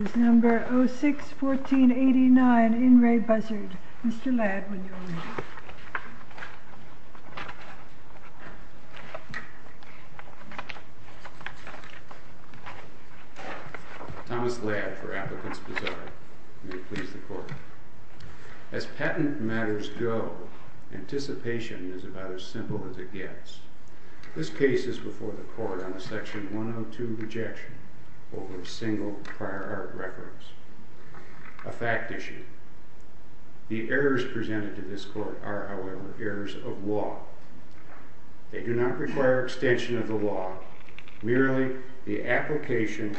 This is number 06-1489, In Re Buszard. Mr. Ladd, will you read it? Thomas Ladd, for Applicant's Bazaar. May it please the Court. As patent matters go, anticipation is about as simple as it gets. This case is before the Court on a Section 102 rejection over single prior art records. A fact issue. The errors presented to this Court are, however, errors of law. They do not require extension of the law, merely the application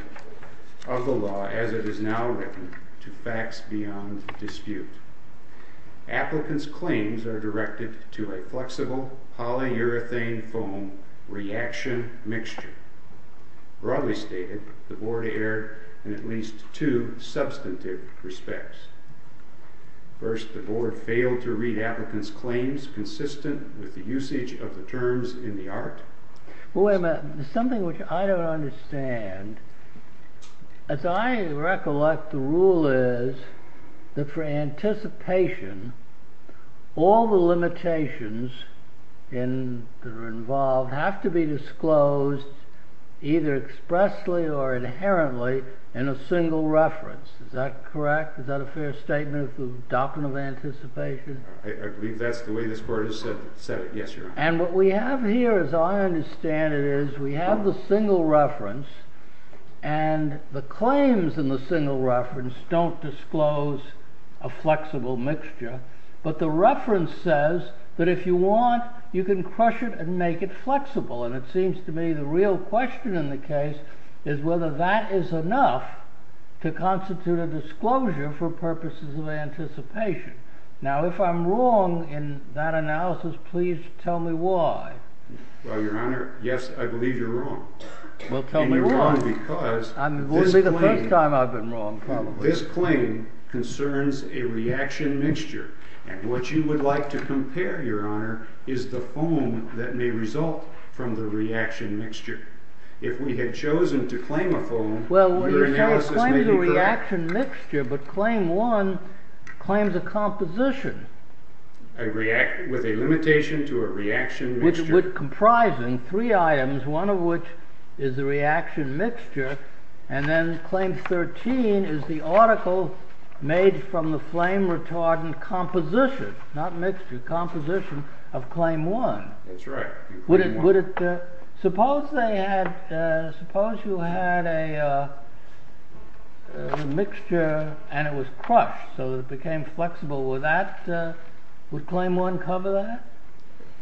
of the law as it is now written to facts beyond dispute. Applicant's claims are directed to a flexible polyurethane foam reaction mixture. Broadly stated, the Board erred in at least two substantive respects. First, the Board failed to read Applicant's claims consistent with the usage of the terms in the art. Well, wait a minute. There's something which I don't understand. As I recollect, the rule is that for anticipation, all the limitations that are involved have to be disclosed either expressly or inherently in a single reference. Is that correct? Is that a fair statement of the doctrine of anticipation? I believe that's the way this Court has set it. Yes, Your Honor. And what we have here, as I understand it, is we have the single reference. And the claims in the single reference don't disclose a flexible mixture. But the reference says that if you want, you can crush it and make it flexible. And it seems to me the real question in the case is whether that is enough to constitute a disclosure for purposes of anticipation. Now, if I'm wrong in that analysis, please tell me why. Well, Your Honor, yes, I believe you're wrong. Well, tell me why. And you're wrong because this claim concerns a reaction mixture. And what you would like to compare, Your Honor, is the foam that may result from the reaction mixture. If we had chosen to claim a foam, your analysis may be correct. It claims a reaction mixture, but Claim 1 claims a composition. With a limitation to a reaction mixture. Which would comprise in three items, one of which is the reaction mixture. And then Claim 13 is the article made from the flame retardant composition, not mixture, composition of Claim 1. That's right. Suppose you had a mixture and it was crushed, so it became flexible. Would Claim 1 cover that?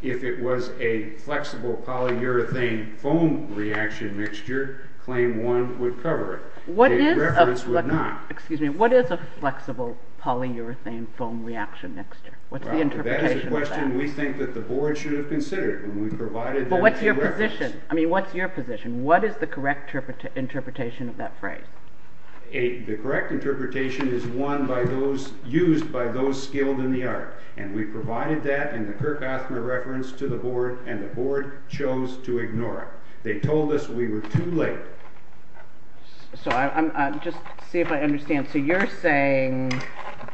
If it was a flexible polyurethane foam reaction mixture, Claim 1 would cover it. What is a flexible polyurethane foam reaction mixture? What's the interpretation of that? That is a question we think that the Board should have considered when we provided that reference. But what's your position? I mean, what's your position? What is the correct interpretation of that phrase? The correct interpretation is one used by those skilled in the art. And we provided that in the Kirk Osmer reference to the Board, and the Board chose to ignore it. They told us we were too late. So, just to see if I understand. So you're saying,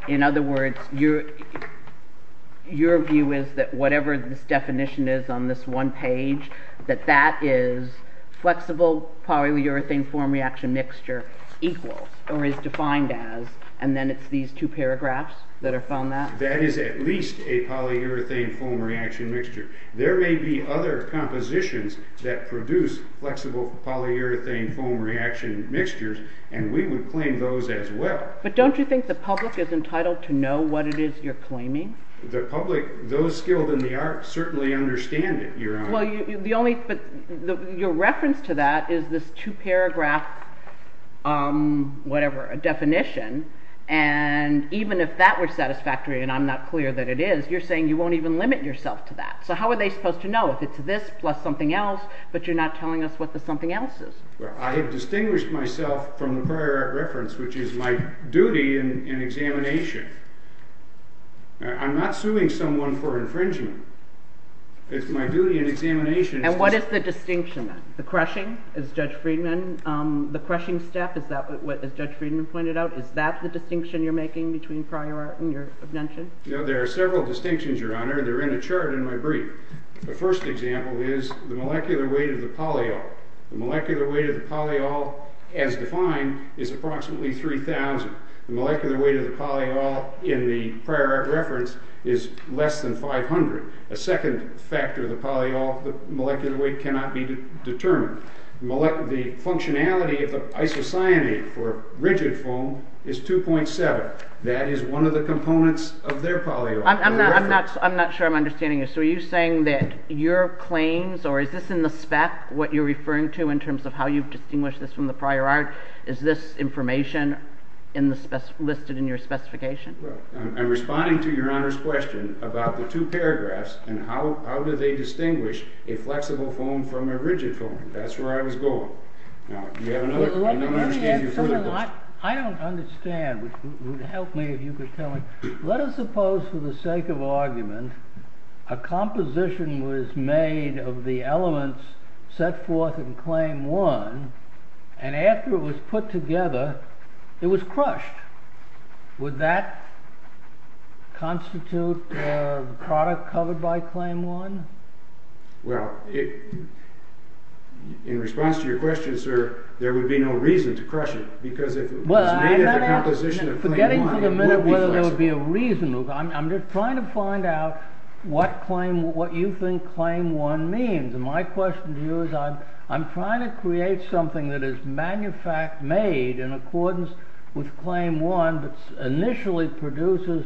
in other words, your view is that whatever this definition is on this one page, that that is flexible polyurethane foam reaction mixture equals, or is defined as, and then it's these two paragraphs that are found there? That is at least a polyurethane foam reaction mixture. There may be other compositions that produce flexible polyurethane foam reaction mixtures, and we would claim those as well. But don't you think the public is entitled to know what it is you're claiming? The public, those skilled in the art, certainly understand it. But your reference to that is this two-paragraph definition, and even if that were satisfactory, and I'm not clear that it is, you're saying you won't even limit yourself to that. So how are they supposed to know if it's this plus something else, but you're not telling us what the something else is? Well, I have distinguished myself from the prior art reference, which is my duty in examination. I'm not suing someone for infringement. It's my duty in examination. And what is the distinction then? The crushing, as Judge Friedman, the crushing step, as Judge Friedman pointed out, is that the distinction you're making between prior art and your mention? There are several distinctions, Your Honor, and they're in a chart in my brief. The first example is the molecular weight of the polyol. The molecular weight of the polyol, as defined, is approximately 3,000. The molecular weight of the polyol in the prior art reference is less than 500. A second factor of the polyol, the molecular weight cannot be determined. The functionality of the isocyanate for rigid foam is 2.7. That is one of the components of their polyol. I'm not sure I'm understanding this. So are you saying that your claims, or is this in the spec what you're referring to in terms of how you've distinguished this from the prior art? Is this information listed in your specification? I'm responding to Your Honor's question about the two paragraphs and how do they distinguish a flexible foam from a rigid foam. That's where I was going. I don't understand, which would help me if you could tell me. Let us suppose, for the sake of argument, a composition was made of the elements set forth in Claim 1 and after it was put together, it was crushed. Would that constitute a product covered by Claim 1? Well, in response to your question, sir, there would be no reason to crush it because if it was made of the composition of Claim 1, it would be flexible. I'm just trying to find out what you think Claim 1 means. My question to you is, I'm trying to create something that is made in accordance with Claim 1 that initially produces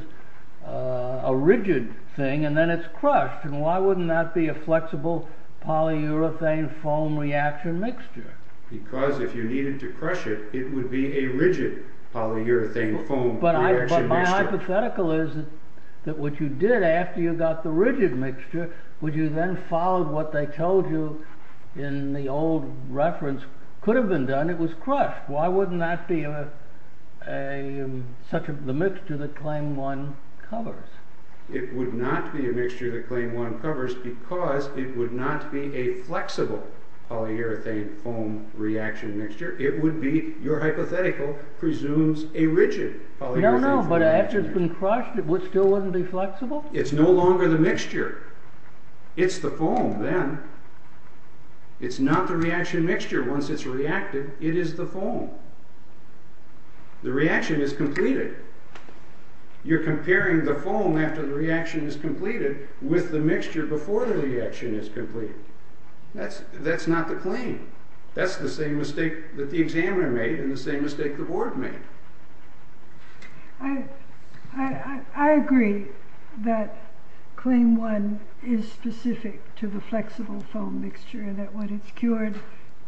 a rigid thing and then it's crushed. Why wouldn't that be a flexible polyurethane foam reaction mixture? Because if you needed to crush it, it would be a rigid polyurethane foam reaction mixture. But my hypothetical is that what you did after you got the rigid mixture, would you then follow what they told you in the old reference, could have been done, it was crushed. Why wouldn't that be such a mixture that Claim 1 covers? It would not be a mixture that Claim 1 covers because it would not be a flexible polyurethane foam reaction mixture. It would be, your hypothetical presumes, a rigid polyurethane foam mixture. No, no, but after it's been crushed, it still wouldn't be flexible? It's no longer the mixture. It's the foam then. It's not the reaction mixture. Once it's reacted, it is the foam. The reaction is completed. You're comparing the foam after the reaction is completed with the mixture before the reaction is completed. That's not the claim. That's the same mistake that the examiner made and the same mistake the board made. I agree that Claim 1 is specific to the flexible foam mixture and that when it's cured,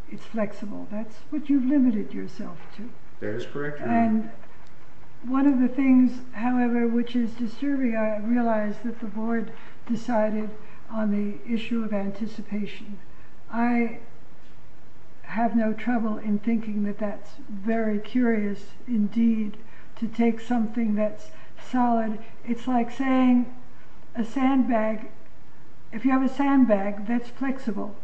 it's flexible. That's what you've limited yourself to. That is correct. One of the things, however, which is disturbing, I realized that the board decided on the issue of anticipation. I have no trouble in thinking that that's very curious indeed, to take something that's solid. It's like saying, if you have a sandbag, that's flexible.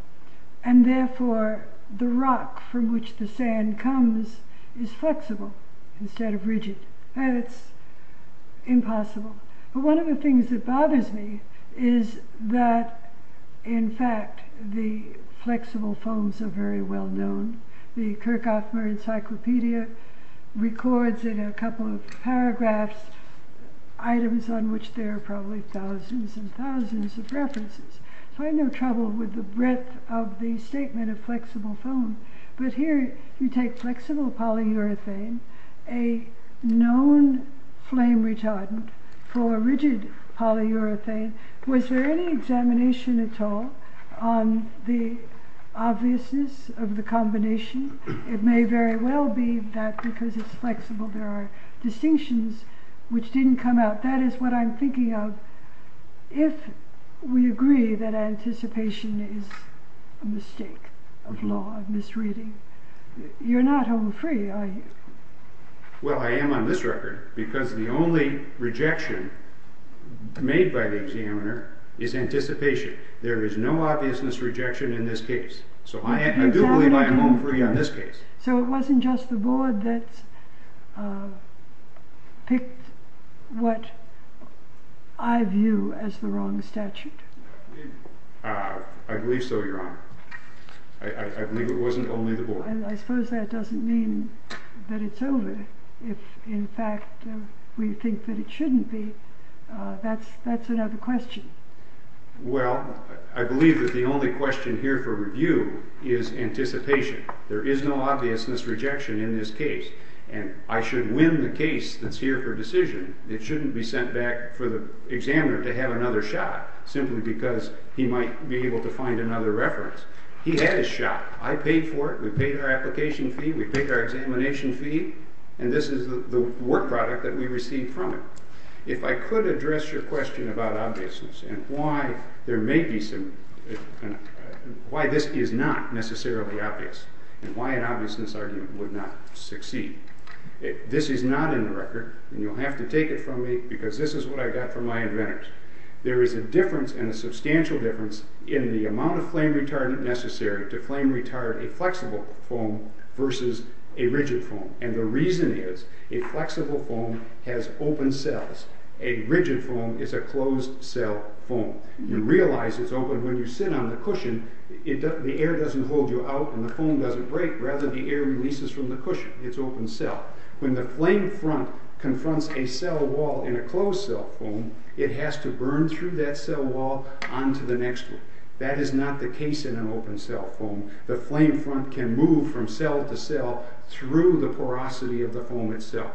Therefore, the rock from which the sand comes is flexible instead of rigid. That's impossible. One of the things that bothers me is that, in fact, the flexible foams are very well known. The Kirchhoff Encyclopedia records in a couple of paragraphs items on which there are probably thousands and thousands of references. I have no trouble with the breadth of the statement of flexible foam, but here you take flexible polyurethane, a known flame retardant for rigid polyurethane. Was there any examination at all on the obviousness of the combination? It may very well be that because it's flexible, there are distinctions which didn't come out. That is what I'm thinking of. If we agree that anticipation is a mistake of law, of misreading, you're not home free, are you? Well, I am on this record because the only rejection made by the examiner is anticipation. There is no obviousness rejection in this case. I do believe I am home free on this case. So it wasn't just the board that picked what I view as the wrong statute? I believe so, Your Honor. I believe it wasn't only the board. I suppose that doesn't mean that it's over. If, in fact, we think that it shouldn't be, that's another question. Well, I believe that the only question here for review is anticipation. There is no obviousness rejection in this case. And I should win the case that's here for decision. It shouldn't be sent back for the examiner to have another shot simply because he might be able to find another reference. He had his shot. I paid for it. We paid our application fee. We paid our examination fee. And this is the work product that we received from it. If I could address your question about obviousness and why this is not necessarily obvious and why an obviousness argument would not succeed. This is not in the record, and you'll have to take it from me because this is what I got from my inventors. There is a difference and a substantial difference in the amount of flame retardant necessary to flame retard a flexible foam versus a rigid foam. And the reason is a flexible foam has open cells. A rigid foam is a closed-cell foam. You realize it's open when you sit on the cushion. The air doesn't hold you out, and the foam doesn't break. Rather, the air releases from the cushion. It's open cell. When the flame front confronts a cell wall in a closed-cell foam, it has to burn through that cell wall onto the next one. That is not the case in an open-cell foam. The flame front can move from cell to cell through the porosity of the foam itself.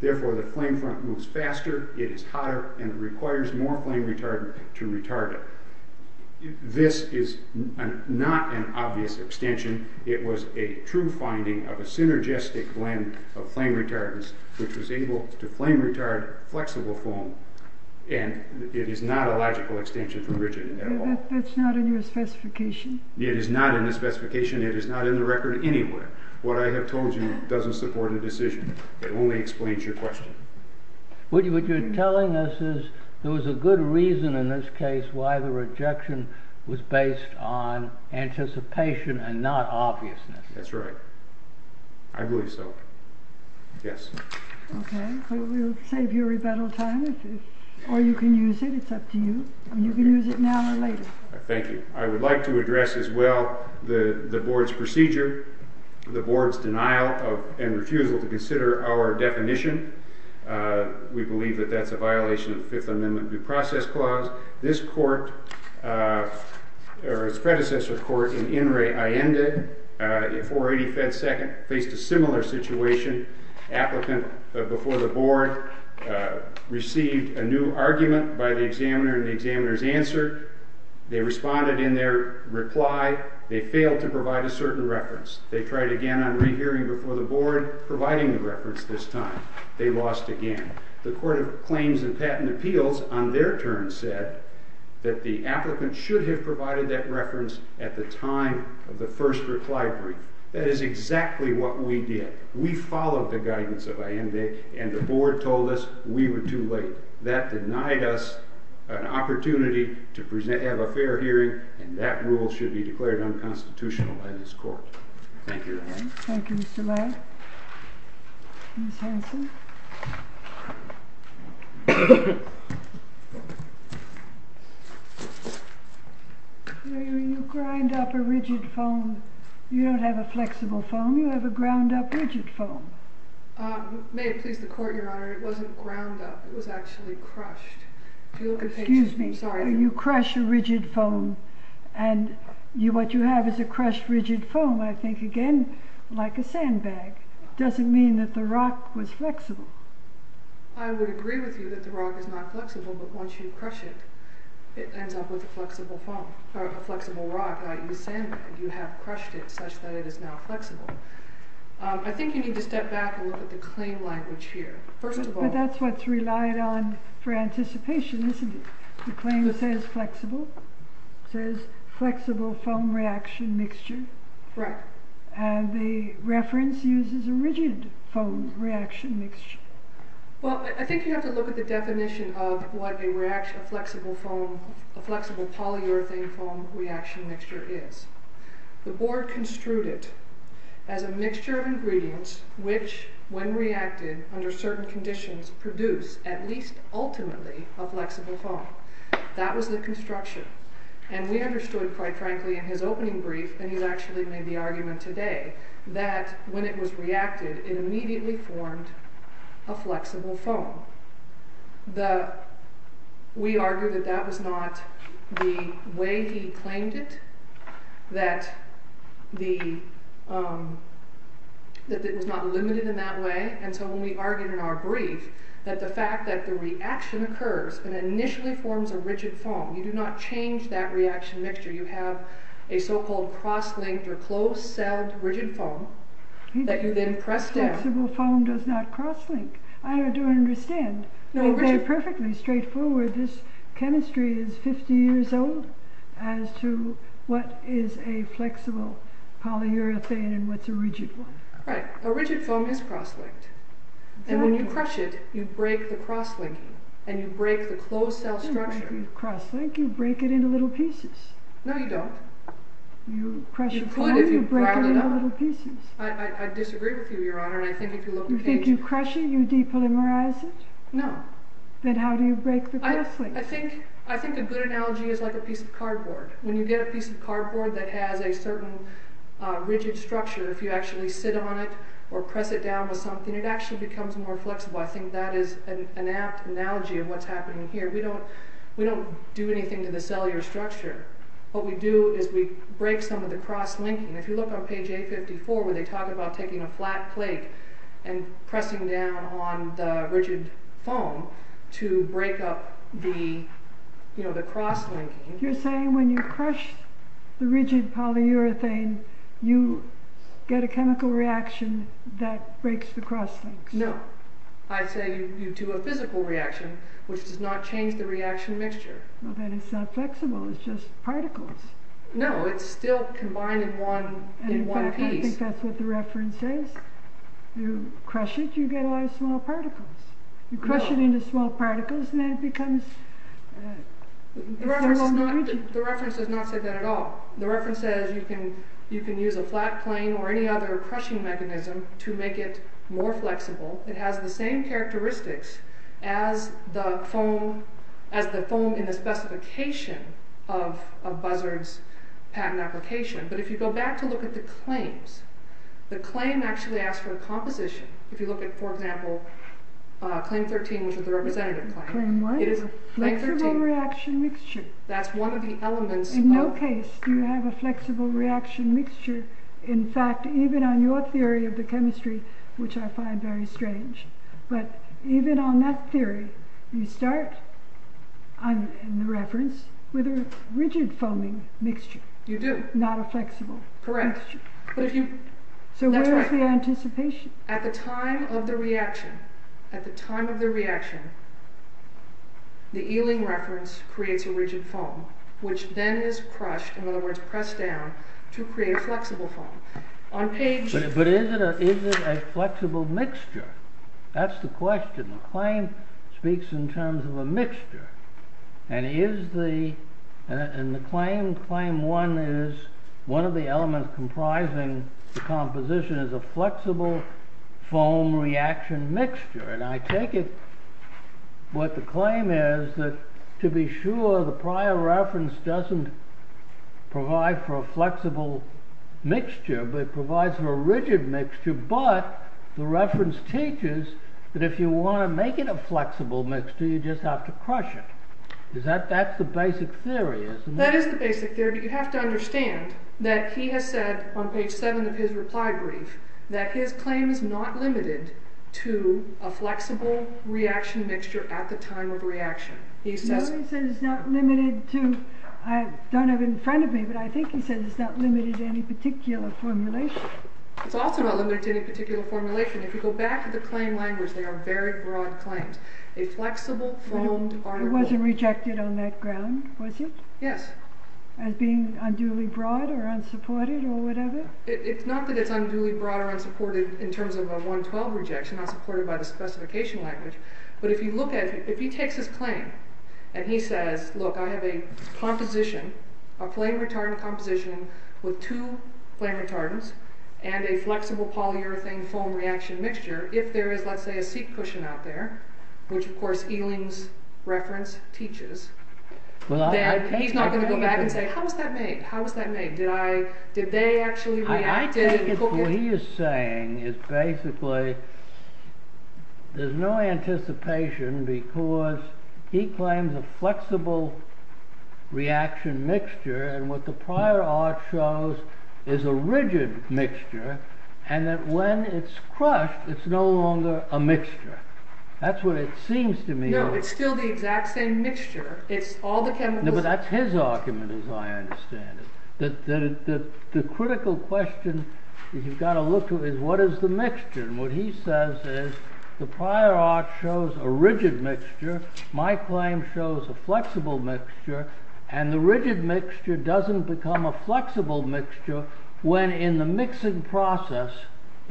Therefore, the flame front moves faster, it is hotter, and it requires more flame retardant to retard it. This is not an obvious extension. It was a true finding of a synergistic blend of flame retardants which was able to flame retard flexible foam. And it is not a logical extension from rigid at all. That's not in your specification. It is not in the specification. It is not in the record anywhere. What I have told you doesn't support a decision. It only explains your question. What you're telling us is there was a good reason in this case why the rejection was based on anticipation and not obviousness. That's right. I believe so. Yes. Okay. We'll save you rebuttal time. Or you can use it. It's up to you. You can use it now or later. Thank you. I would like to address as well the board's procedure, the board's denial and refusal to consider our definition. We believe that that's a violation of the Fifth Amendment due process clause. This court, or its predecessor court in INRAE-INDA, in 480 Fed Second, faced a similar situation. Applicant before the board received a new argument by the examiner, and the examiner's answer, they responded in their reply, they failed to provide a certain reference. They tried again on rehearing before the board, providing the reference this time. They lost again. The Court of Claims and Patent Appeals, on their turn, said that the applicant should have provided that reference at the time of the first reply brief. That is exactly what we did. We followed the guidance of INRAE-INDA, and the board told us we were too late. That denied us an opportunity to have a fair hearing, and that rule should be declared unconstitutional by this court. Thank you, Your Honor. Thank you, Mr. Ladd. Ms. Hanson? You grind up a rigid foam. You don't have a flexible foam. You have a ground-up rigid foam. May it please the Court, Your Honor, it wasn't ground up. It was actually crushed. Excuse me. You crush a rigid foam, and what you have is a crushed rigid foam, I think, again, like a sandbag. It doesn't mean that the rock was flexible. I would agree with you that the rock is not flexible, but once you crush it, it ends up with a flexible rock, i.e. sandbag. You have crushed it such that it is now flexible. I think you need to step back and look at the claim language here. But that's what's relied on for anticipation, isn't it? The claim says flexible. It says flexible foam reaction mixture. Right. And the reference uses a rigid foam reaction mixture. Well, I think you have to look at the definition of what a flexible polyurethane foam reaction mixture is. The board construed it as a mixture of ingredients which, when reacted under certain conditions, produce, at least ultimately, a flexible foam. That was the construction. And we understood, quite frankly, in his opening brief, and he's actually made the argument today, that when it was reacted, it immediately formed a flexible foam. We argue that that was not the way he claimed it, that it was not limited in that way. And so when we argue in our brief that the fact that the reaction occurs and initially forms a rigid foam, you do not change that reaction mixture. You have a so-called cross-linked or closed-celled rigid foam that you then press down. Flexible foam does not cross-link. I don't understand. Very perfectly straightforward, this chemistry is 50 years old as to what is a flexible polyurethane and what's a rigid one. Right. A rigid foam is cross-linked. And when you crush it, you break the cross-linking, and you break the closed-cell structure. You don't break the cross-link, you break it into little pieces. No, you don't. You crush the foam, you break it into little pieces. I disagree with you, Your Honor. You think you crush it, you depolymerize it? No. Then how do you break the cross-link? I think a good analogy is like a piece of cardboard. When you get a piece of cardboard that has a certain rigid structure, if you actually sit on it or press it down with something, it actually becomes more flexible. I think that is an apt analogy of what's happening here. We don't do anything to the cellular structure. What we do is we break some of the cross-linking. If you look on page 854 where they talk about taking a flat plate and pressing down on the rigid foam to break up the cross-linking... You're saying when you crush the rigid polyurethane, you get a chemical reaction that breaks the cross-links? No. I'd say you do a physical reaction, which does not change the reaction mixture. Then it's not flexible, it's just particles. No, it's still combined in one piece. I think that's what the reference says. You crush it, you get a lot of small particles. You crush it into small particles and then it becomes... The reference does not say that at all. The reference says you can use a flat plane or any other crushing mechanism to make it more flexible. It has the same characteristics as the foam in the specification of Buzzard's patent application. But if you go back to look at the claims, the claim actually asks for a composition. If you look at, for example, claim 13, which is the representative claim... Claim what? It is a flexible reaction mixture. That's one of the elements of... In no case do you have a flexible reaction mixture. In fact, even on your theory of the chemistry, which I find very strange, but even on that theory, you start, in the reference, with a rigid foaming mixture. You do. Not a flexible mixture. Correct. So where is the anticipation? At the time of the reaction, the Ealing reference creates a rigid foam, which then is crushed, in other words pressed down, to create a flexible foam. But is it a flexible mixture? That's the question. The claim speaks in terms of a mixture. And the claim 1 is one of the elements comprising the composition is a flexible foam reaction mixture. And I take it what the claim is that to be sure the prior reference doesn't provide for a flexible mixture, but provides for a rigid mixture, but the reference teaches that if you want to make it a flexible mixture, you just have to crush it. That's the basic theory, isn't it? That is the basic theory, but you have to understand that he has said on page 7 of his reply brief that his claim is not limited to a flexible reaction mixture at the time of reaction. No, he said it's not limited to... I don't have it in front of me, but I think he said it's not limited to any particular formulation. It's also not limited to any particular formulation. If you go back to the claim language, they are very broad claims. A flexible foam... It wasn't rejected on that ground, was it? Yes. As being unduly broad or unsupported or whatever? It's not that it's unduly broad or unsupported in terms of a 112 rejection, not supported by the specification language, but if you look at it, if he takes his claim, and he says, look, I have a composition, a flame retardant composition with two flame retardants and a flexible polyurethane foam reaction mixture, if there is, let's say, a seat cushion out there, which, of course, Ealing's reference teaches, then he's not going to go back and say, how was that made? How was that made? Did they actually react? I think what he is saying is basically there's no anticipation because he claims a flexible reaction mixture and what the prior art shows is a rigid mixture and that when it's crushed, it's no longer a mixture. That's what it seems to me. No, it's still the exact same mixture. It's all the chemicals. No, but that's his argument, as I understand it, that the critical question that you've got to look to is what is the mixture? And what he says is the prior art shows a rigid mixture, my claim shows a flexible mixture, and the rigid mixture doesn't become a flexible mixture when in the mixing process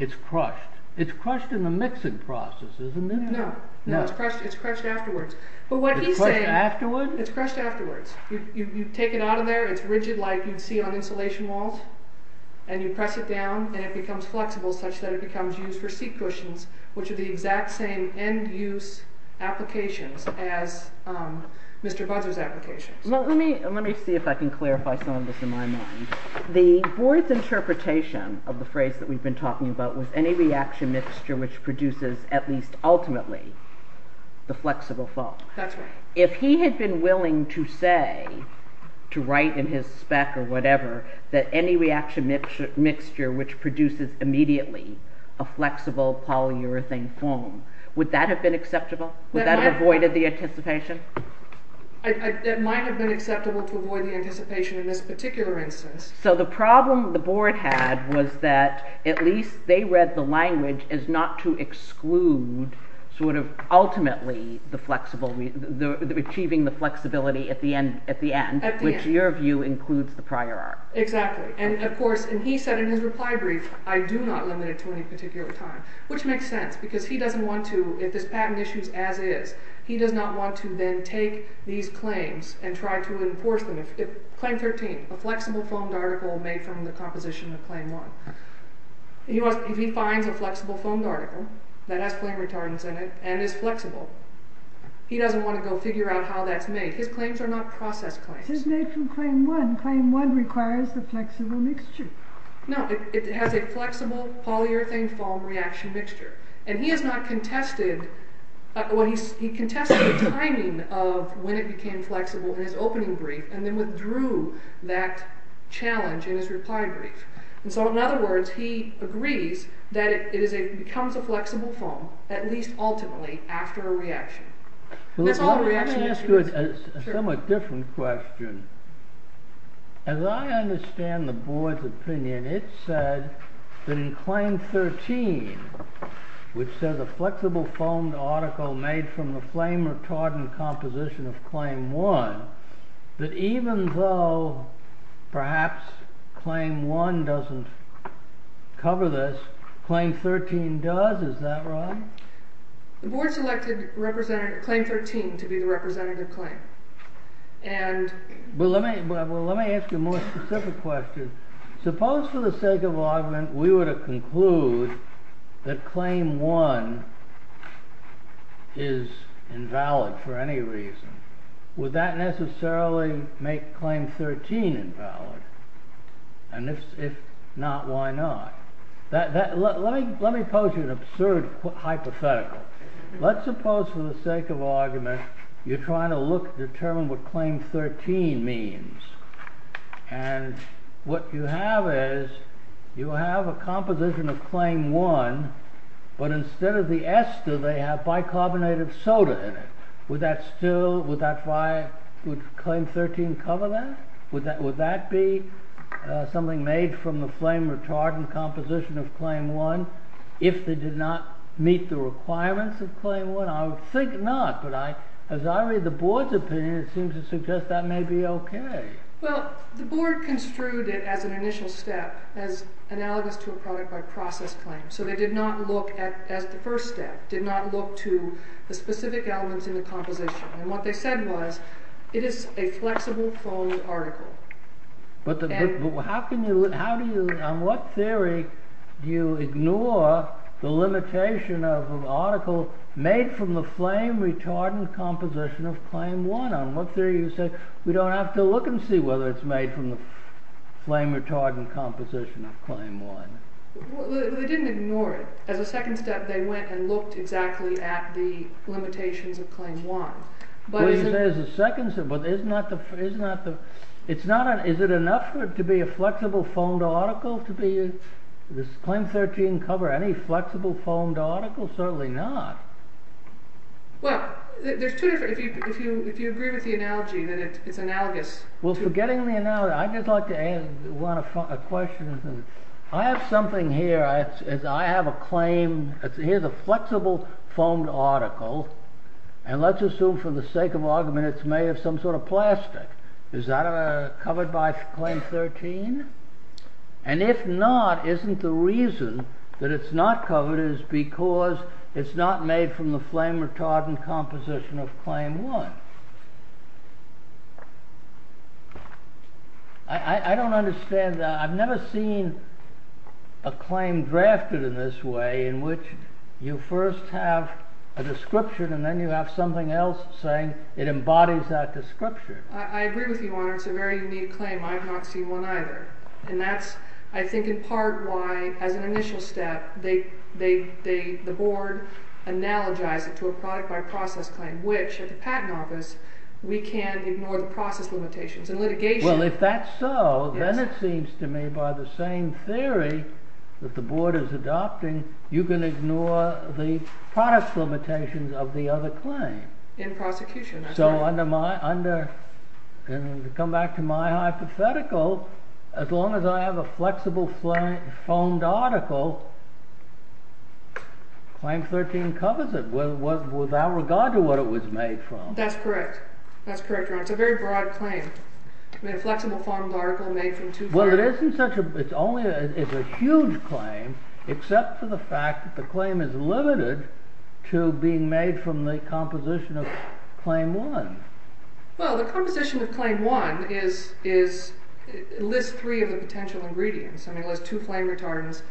it's crushed. It's crushed in the mixing process, isn't it? No, it's crushed afterwards. But what he's saying It's crushed afterwards? It's crushed afterwards. You take it out of there, it's rigid like you'd see on insulation walls, and you press it down and it becomes flexible such that it becomes used for seat cushions, which are the exact same end-use applications as Mr. Buzzer's applications. Let me see if I can clarify some of this in my mind. The board's interpretation of the phrase that we've been talking about was any reaction mixture which produces, at least ultimately, the flexible foam. That's right. If he had been willing to say, to write in his spec or whatever, that any reaction mixture which produces immediately a flexible polyurethane foam, would that have been acceptable? Would that have avoided the anticipation? It might have been acceptable to avoid the anticipation in this particular instance. So the problem the board had was that at least they read the language as not to exclude ultimately achieving the flexibility at the end, which, in your view, includes the prior art. Exactly. And he said in his reply brief, I do not limit it to any particular time, which makes sense because he doesn't want to, if this patent issue is as is, he does not want to then take these claims and try to enforce them. Claim 13, a flexible foamed article made from the composition of Claim 1. If he finds a flexible foamed article that has flame retardants in it and is flexible, he doesn't want to go figure out how that's made. His claims are not process claims. It's made from Claim 1. Claim 1 requires the flexible mixture. No, it has a flexible polyurethane foam reaction mixture. And he has not contested, he contested the timing of when it became flexible in his opening brief and then withdrew that challenge in his reply brief. And so in other words, he agrees that it becomes a flexible foam, at least ultimately, after a reaction. Let me ask you a somewhat different question. As I understand the board's opinion, it said that in Claim 13, which says a flexible foamed article made from the flame retardant composition of Claim 1, that even though perhaps Claim 1 doesn't cover this, Claim 13 does. Is that right? The board selected Claim 13 to be the representative claim. Let me ask you a more specific question. Suppose for the sake of argument, we were to conclude that Claim 1 is invalid for any reason. Would that necessarily make Claim 13 invalid? And if not, why not? Let me pose you an absurd hypothetical. Let's suppose for the sake of argument, you're trying to determine what Claim 13 means. And what you have is, you have a composition of Claim 1, but instead of the ester, they have bicarbonate of soda in it. Would Claim 13 cover that? Would that be something made from the flame retardant composition of Claim 1, if they did not meet the requirements of Claim 1? I would think not, but as I read the board's opinion, it seems to suggest that may be okay. Well, the board construed it as an initial step, as analogous to a product-by-process claim. So they did not look at it as the first step, did not look to the specific elements in the composition. And what they said was, it is a flexible-foamed article. But how can you... On what theory do you ignore the limitation of an article made from the flame retardant composition of Claim 1? On what theory do you say, we don't have to look and see whether it's made from the flame retardant composition of Claim 1? Well, they didn't ignore it. As a second step, they went and looked exactly at the limitations of Claim 1. What do you say as a second step? Is it enough to be a flexible-foamed article? Does Claim 13 cover any flexible-foamed article? Certainly not. Well, there's two different... If you agree with the analogy, then it's analogous. Well, forgetting the analogy, I'd just like to ask a question. I have something here. I have a claim. Here's a flexible-foamed article. And let's assume for the sake of argument it's made of some sort of plastic. Is that covered by Claim 13? And if not, isn't the reason that it's not covered is because it's not made from the flame retardant composition of Claim 1? I don't understand that. I've never seen a claim drafted in this way in which you first have a description and then you have something else saying it embodies that description. I agree with you, Your Honor. It's a very unique claim. I've not seen one either. And that's, I think, in part why, as an initial step, the board analogized it to a product-by-process claim, which, at the Patent Office, we can ignore the process limitations. In litigation... Well, if that's so, then it seems to me by the same theory that the board is adopting, you can ignore the product limitations of the other claim. In prosecution, that's right. So under my... And to come back to my hypothetical, as long as I have a flexible-foamed article, Claim 13 covers it, without regard to what it was made from. That's correct. That's correct, Your Honor. It's a very broad claim. A flexible-foamed article made from two... Well, it isn't such a... It's a huge claim, except for the fact that the claim is limited to being made from the composition of Claim 1. Well, the composition of Claim 1 lists three of the potential ingredients. It lists two flame retardants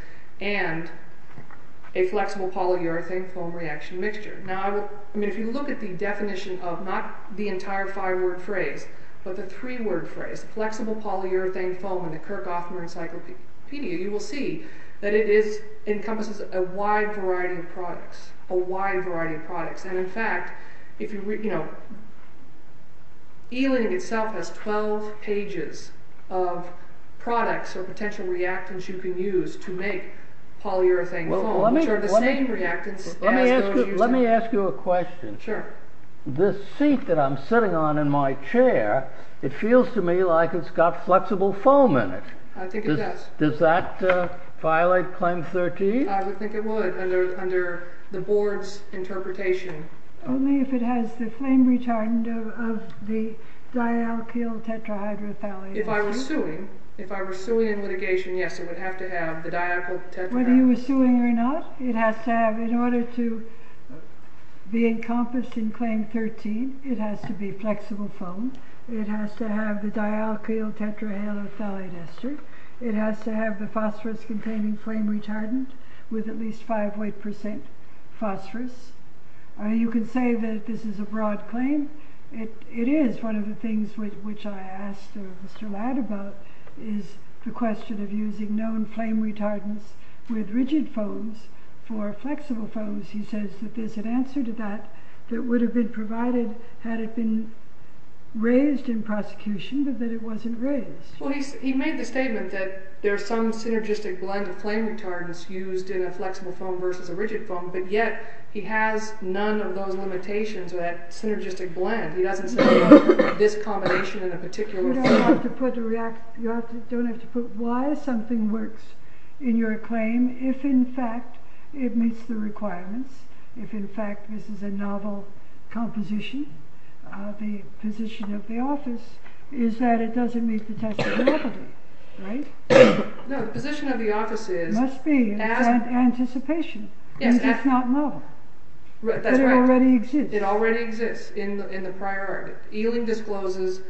and a flexible polyurethane foam reaction mixture. Now, if you look at the definition of not the entire five-word phrase, but the three-word phrase, flexible polyurethane foam, in the Kirk-Othmer Encyclopedia, you will see that it encompasses a wide variety of products. A wide variety of products. And in fact, if you read... Ealing itself has 12 pages of products or potential reactants you can use to make polyurethane foam, which are the same reactants... Let me ask you a question. Sure. This seat that I'm sitting on in my chair, it feels to me like it's got flexible foam in it. I think it does. Does that violate Claim 13? I would think it would, under the board's interpretation. Only if it has the flame retardant of the dialkyl tetrahydrothalate. If I were suing, if I were suing in litigation, yes, it would have to have the dialkyl tetrahydrothalate. Whether you were suing or not, it has to have, in order to be encompassed in Claim 13, it has to be flexible foam. It has to have the dialkyl tetrahydrothalate ester. It has to have the phosphorus-containing flame retardant with at least 5 weight percent phosphorus. You can say that this is a broad claim. It is. One of the things which I asked Mr. Ladd about is the question of using known flame retardants with rigid foams for flexible foams. He says that there's an answer to that that would have been provided had it been raised in prosecution, but that it wasn't raised. Well, he made the statement that there's some synergistic blend of flame retardants used in a flexible foam versus a rigid foam, but yet he has none of those limitations or that synergistic blend. He doesn't say about this combination in a particular form. You don't have to put why something works in your claim if, in fact, it meets the requirements. If, in fact, this is a novel composition, the position of the office is that it doesn't meet the test of novelty, right? No, the position of the office is... It must be. It's anticipation. Yes. If it's not novel. That's right. But it already exists. It already exists in the prior art. Ealing discloses,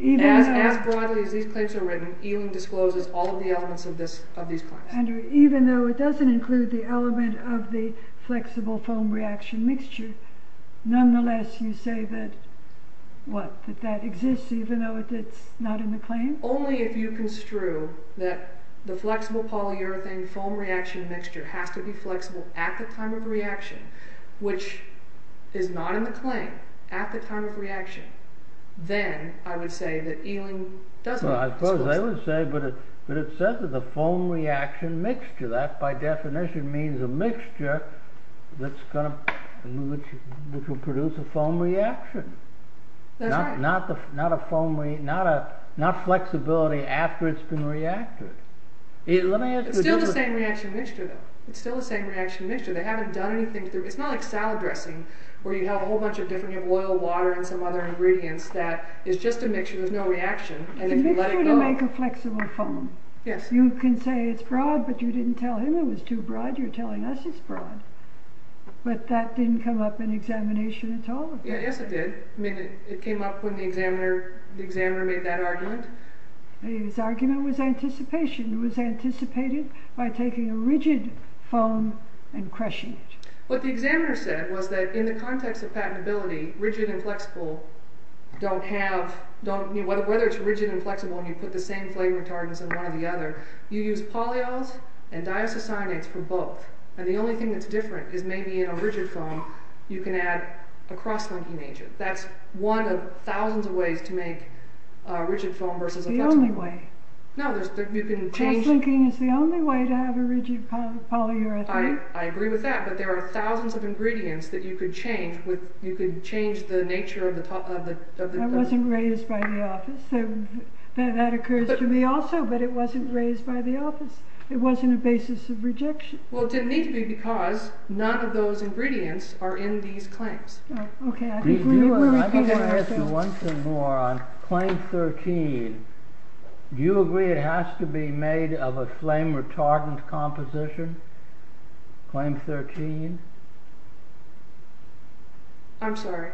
as broadly as these claims are written, Ealing discloses all of the elements of these claims. Even though it doesn't include the element of the flexible foam reaction mixture, nonetheless you say that, what, that that exists even though it's not in the claim? Only if you construe that the flexible polyurethane foam reaction mixture has to be flexible at the time of reaction, which is not in the claim, at the time of reaction, then I would say that Ealing doesn't disclose it. Well, I suppose I would say, but it says that the foam reaction mixture, that by definition means a mixture which will produce a foam reaction. That's right. Not flexibility after it's been reacted. It's still the same reaction mixture, though. It's still the same reaction mixture. They haven't done anything... It's not like salad dressing, where you have a whole bunch of different... You have oil, water, and some other ingredients that is just a mixture, there's no reaction, and if you let it go... You can say it's broad, but you didn't tell him it was too broad, you're telling us it's broad. But that didn't come up in examination at all. Yes, it did. It came up when the examiner made that argument. His argument was anticipation. It was anticipated by taking a rigid foam and crushing it. What the examiner said was that in the context of patentability, rigid and flexible don't have... Whether it's rigid and flexible and you put the same flavor retardants in one or the other, you use polyols and diisocyanates for both. And the only thing that's different is maybe in a rigid foam, you can add a cross-linking agent. That's one of thousands of ways to make a rigid foam versus a flexible one. The only way. No, you can change... Cross-linking is the only way to have a rigid polyurethane. I agree with that, but there are thousands of ingredients that you could change with the nature of the... I wasn't raised by the office, so that occurs to me also, but it wasn't raised by the office. It wasn't a basis of rejection. Well, it didn't need to be because none of those ingredients are in these claims. Okay, I think we will repeat ourselves. I want to ask you once more on Claim 13. Do you agree it has to be made of a flame retardant composition? Claim 13? I'm sorry?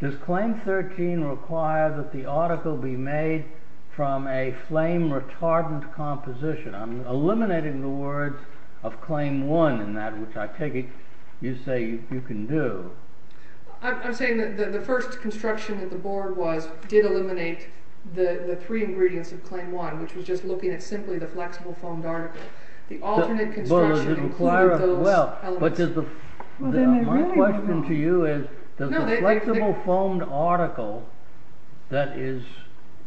Does Claim 13 require that the article be made from a flame retardant composition? I'm eliminating the words of Claim 1 in that which I take it you say you can do. I'm saying that the first construction that the board was did eliminate the three ingredients of Claim 1, which was just looking at simply the flexible foamed article. The alternate construction included those elements. My question to you is does a flexible foamed article that is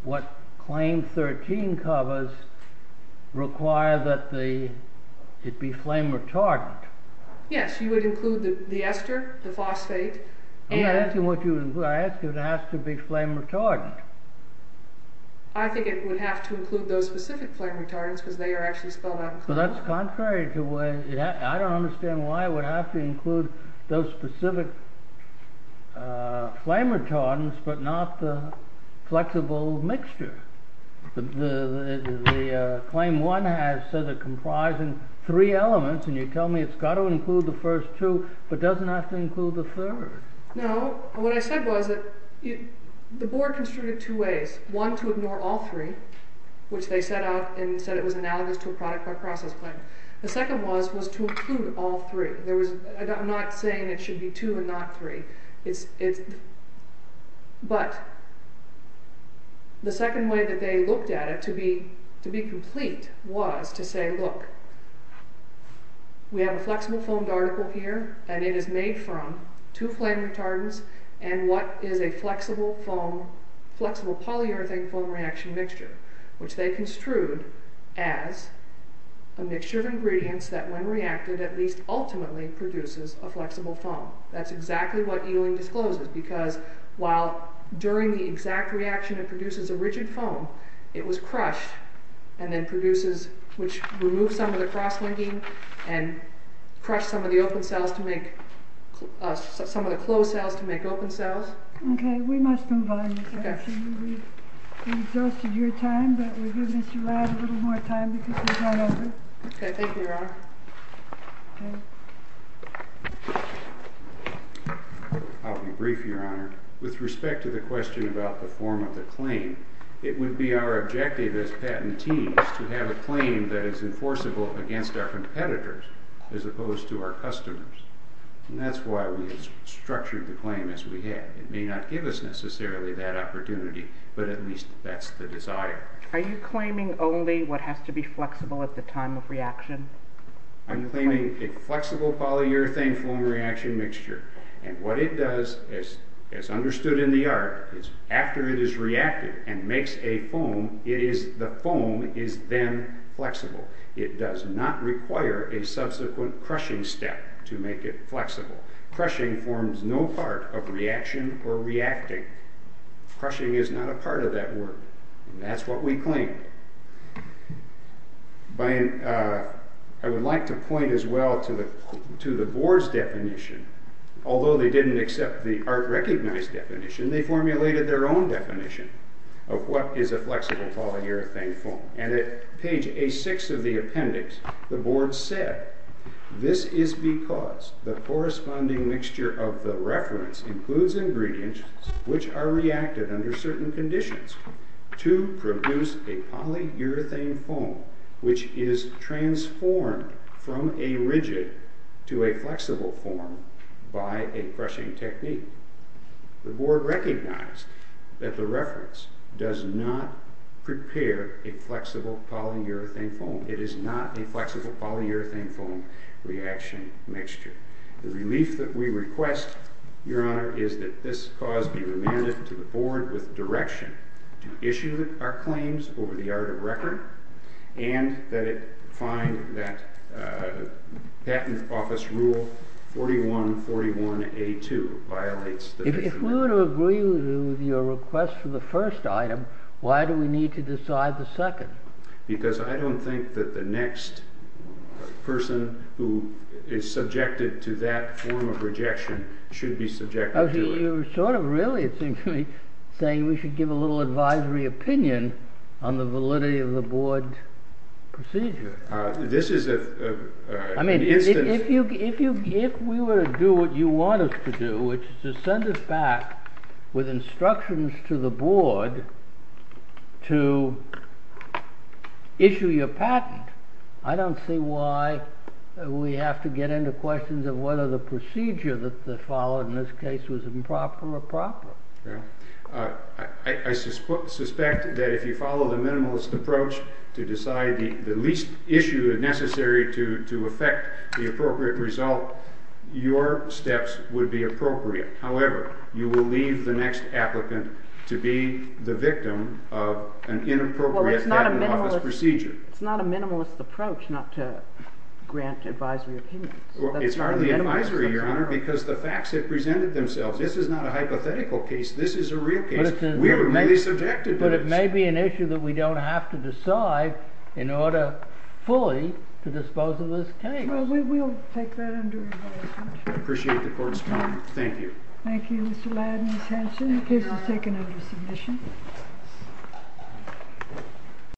what Claim 13 covers require that it be flame retardant? Yes, you would include the ester, the phosphate, and... I'm not asking what you would include. I'm asking if it has to be flame retardant. I think it would have to include those specific flame retardants because they are actually spelled out. That's contrary to what... I don't understand why it would have to include those specific flame retardants but not the flexible mixture. The Claim 1 has said it comprises three elements and you tell me it's got to include the first two but doesn't have to include the third. No. What I said was that the board construed it two ways. One, to ignore all three, which they set out and said it was analogous to a product by process claim. The second was to include all three. I'm not saying it should be two and not three. But the second way that they looked at it to be complete was to say, look, we have a flexible foamed article here and it is made from two flame retardants and what is a flexible polyurethane foam reaction mixture, which they construed as a mixture of ingredients that when reacted at least ultimately produces a flexible foam. That's exactly what Ewing discloses because while during the exact reaction it produces a rigid foam, it was crushed and then produces, which removes some of the cross-linking and crushed some of the open cells to make... some of the closed cells to make open cells. Okay, we must move on. We've exhausted your time but we're giving Mr. Rad a little more time because he's run over. Okay, thank you, Your Honor. I'll be brief, Your Honor. With respect to the question about the form of the claim, it would be our objective as patentees to have a claim that is enforceable against our competitors as opposed to our customers. And that's why we structured the claim as we had. It may not give us necessarily that opportunity but at least that's the desire. Are you claiming only what has to be flexible at the time of reaction? I'm claiming a flexible polyurethane foam reaction mixture. And what it does, as understood in the art, is after it is reacted and makes a foam, it is... the foam is then flexible. It does not require a subsequent crushing step to make it flexible. Crushing forms no part of reaction or reacting. Crushing is not a part of that work. And that's what we claim. I would like to point as well to the board's definition. Although they didn't accept the art recognized definition, they formulated their own definition of what is a flexible polyurethane foam. And at page A6 of the appendix, the board said, this is because the corresponding mixture of the reference includes ingredients which are reacted under certain conditions to produce a polyurethane foam which is transformed from a rigid to a flexible form by a crushing technique. The board recognized that the reference does not prepare a flexible polyurethane foam. It is not a flexible polyurethane foam reaction mixture. The relief that we request, Your Honor, is that this cause be remanded to the board with direction to issue our claims over the art of record and that it find that patent office rule 4141A2 violates the definition. If we were to agree with your request for the first item, why do we need to decide the second? Because I don't think that the next person who is subjected to that form of rejection should be subjected to it. You're sort of really, it seems to me, saying we should give a little advisory opinion on the validity of the board's procedure. This is an instance... I mean, if we were to do what you want us to do, which is to send us back with instructions to the board to issue your patent, I don't see why we have to get into questions of whether the procedure that followed in this case was improper or proper. I suspect that if you follow the minimalist approach to decide the least issue necessary to affect the appropriate result, your steps would be appropriate. However, you will leave the next applicant to be the victim of an inappropriate patent office procedure. It's not a minimalist approach not to grant advisory opinions. It's hardly advisory, Your Honor, because the facts have presented themselves. This is not a hypothetical case. This is a real case. We were really subjected to this. But it may be an issue that we don't have to decide in order fully to dispose of this case. Well, we'll take that under investigation. I appreciate the court's time. Thank you. Thank you, Mr. Ladd and Ms. Hanson. The case is taken under submission.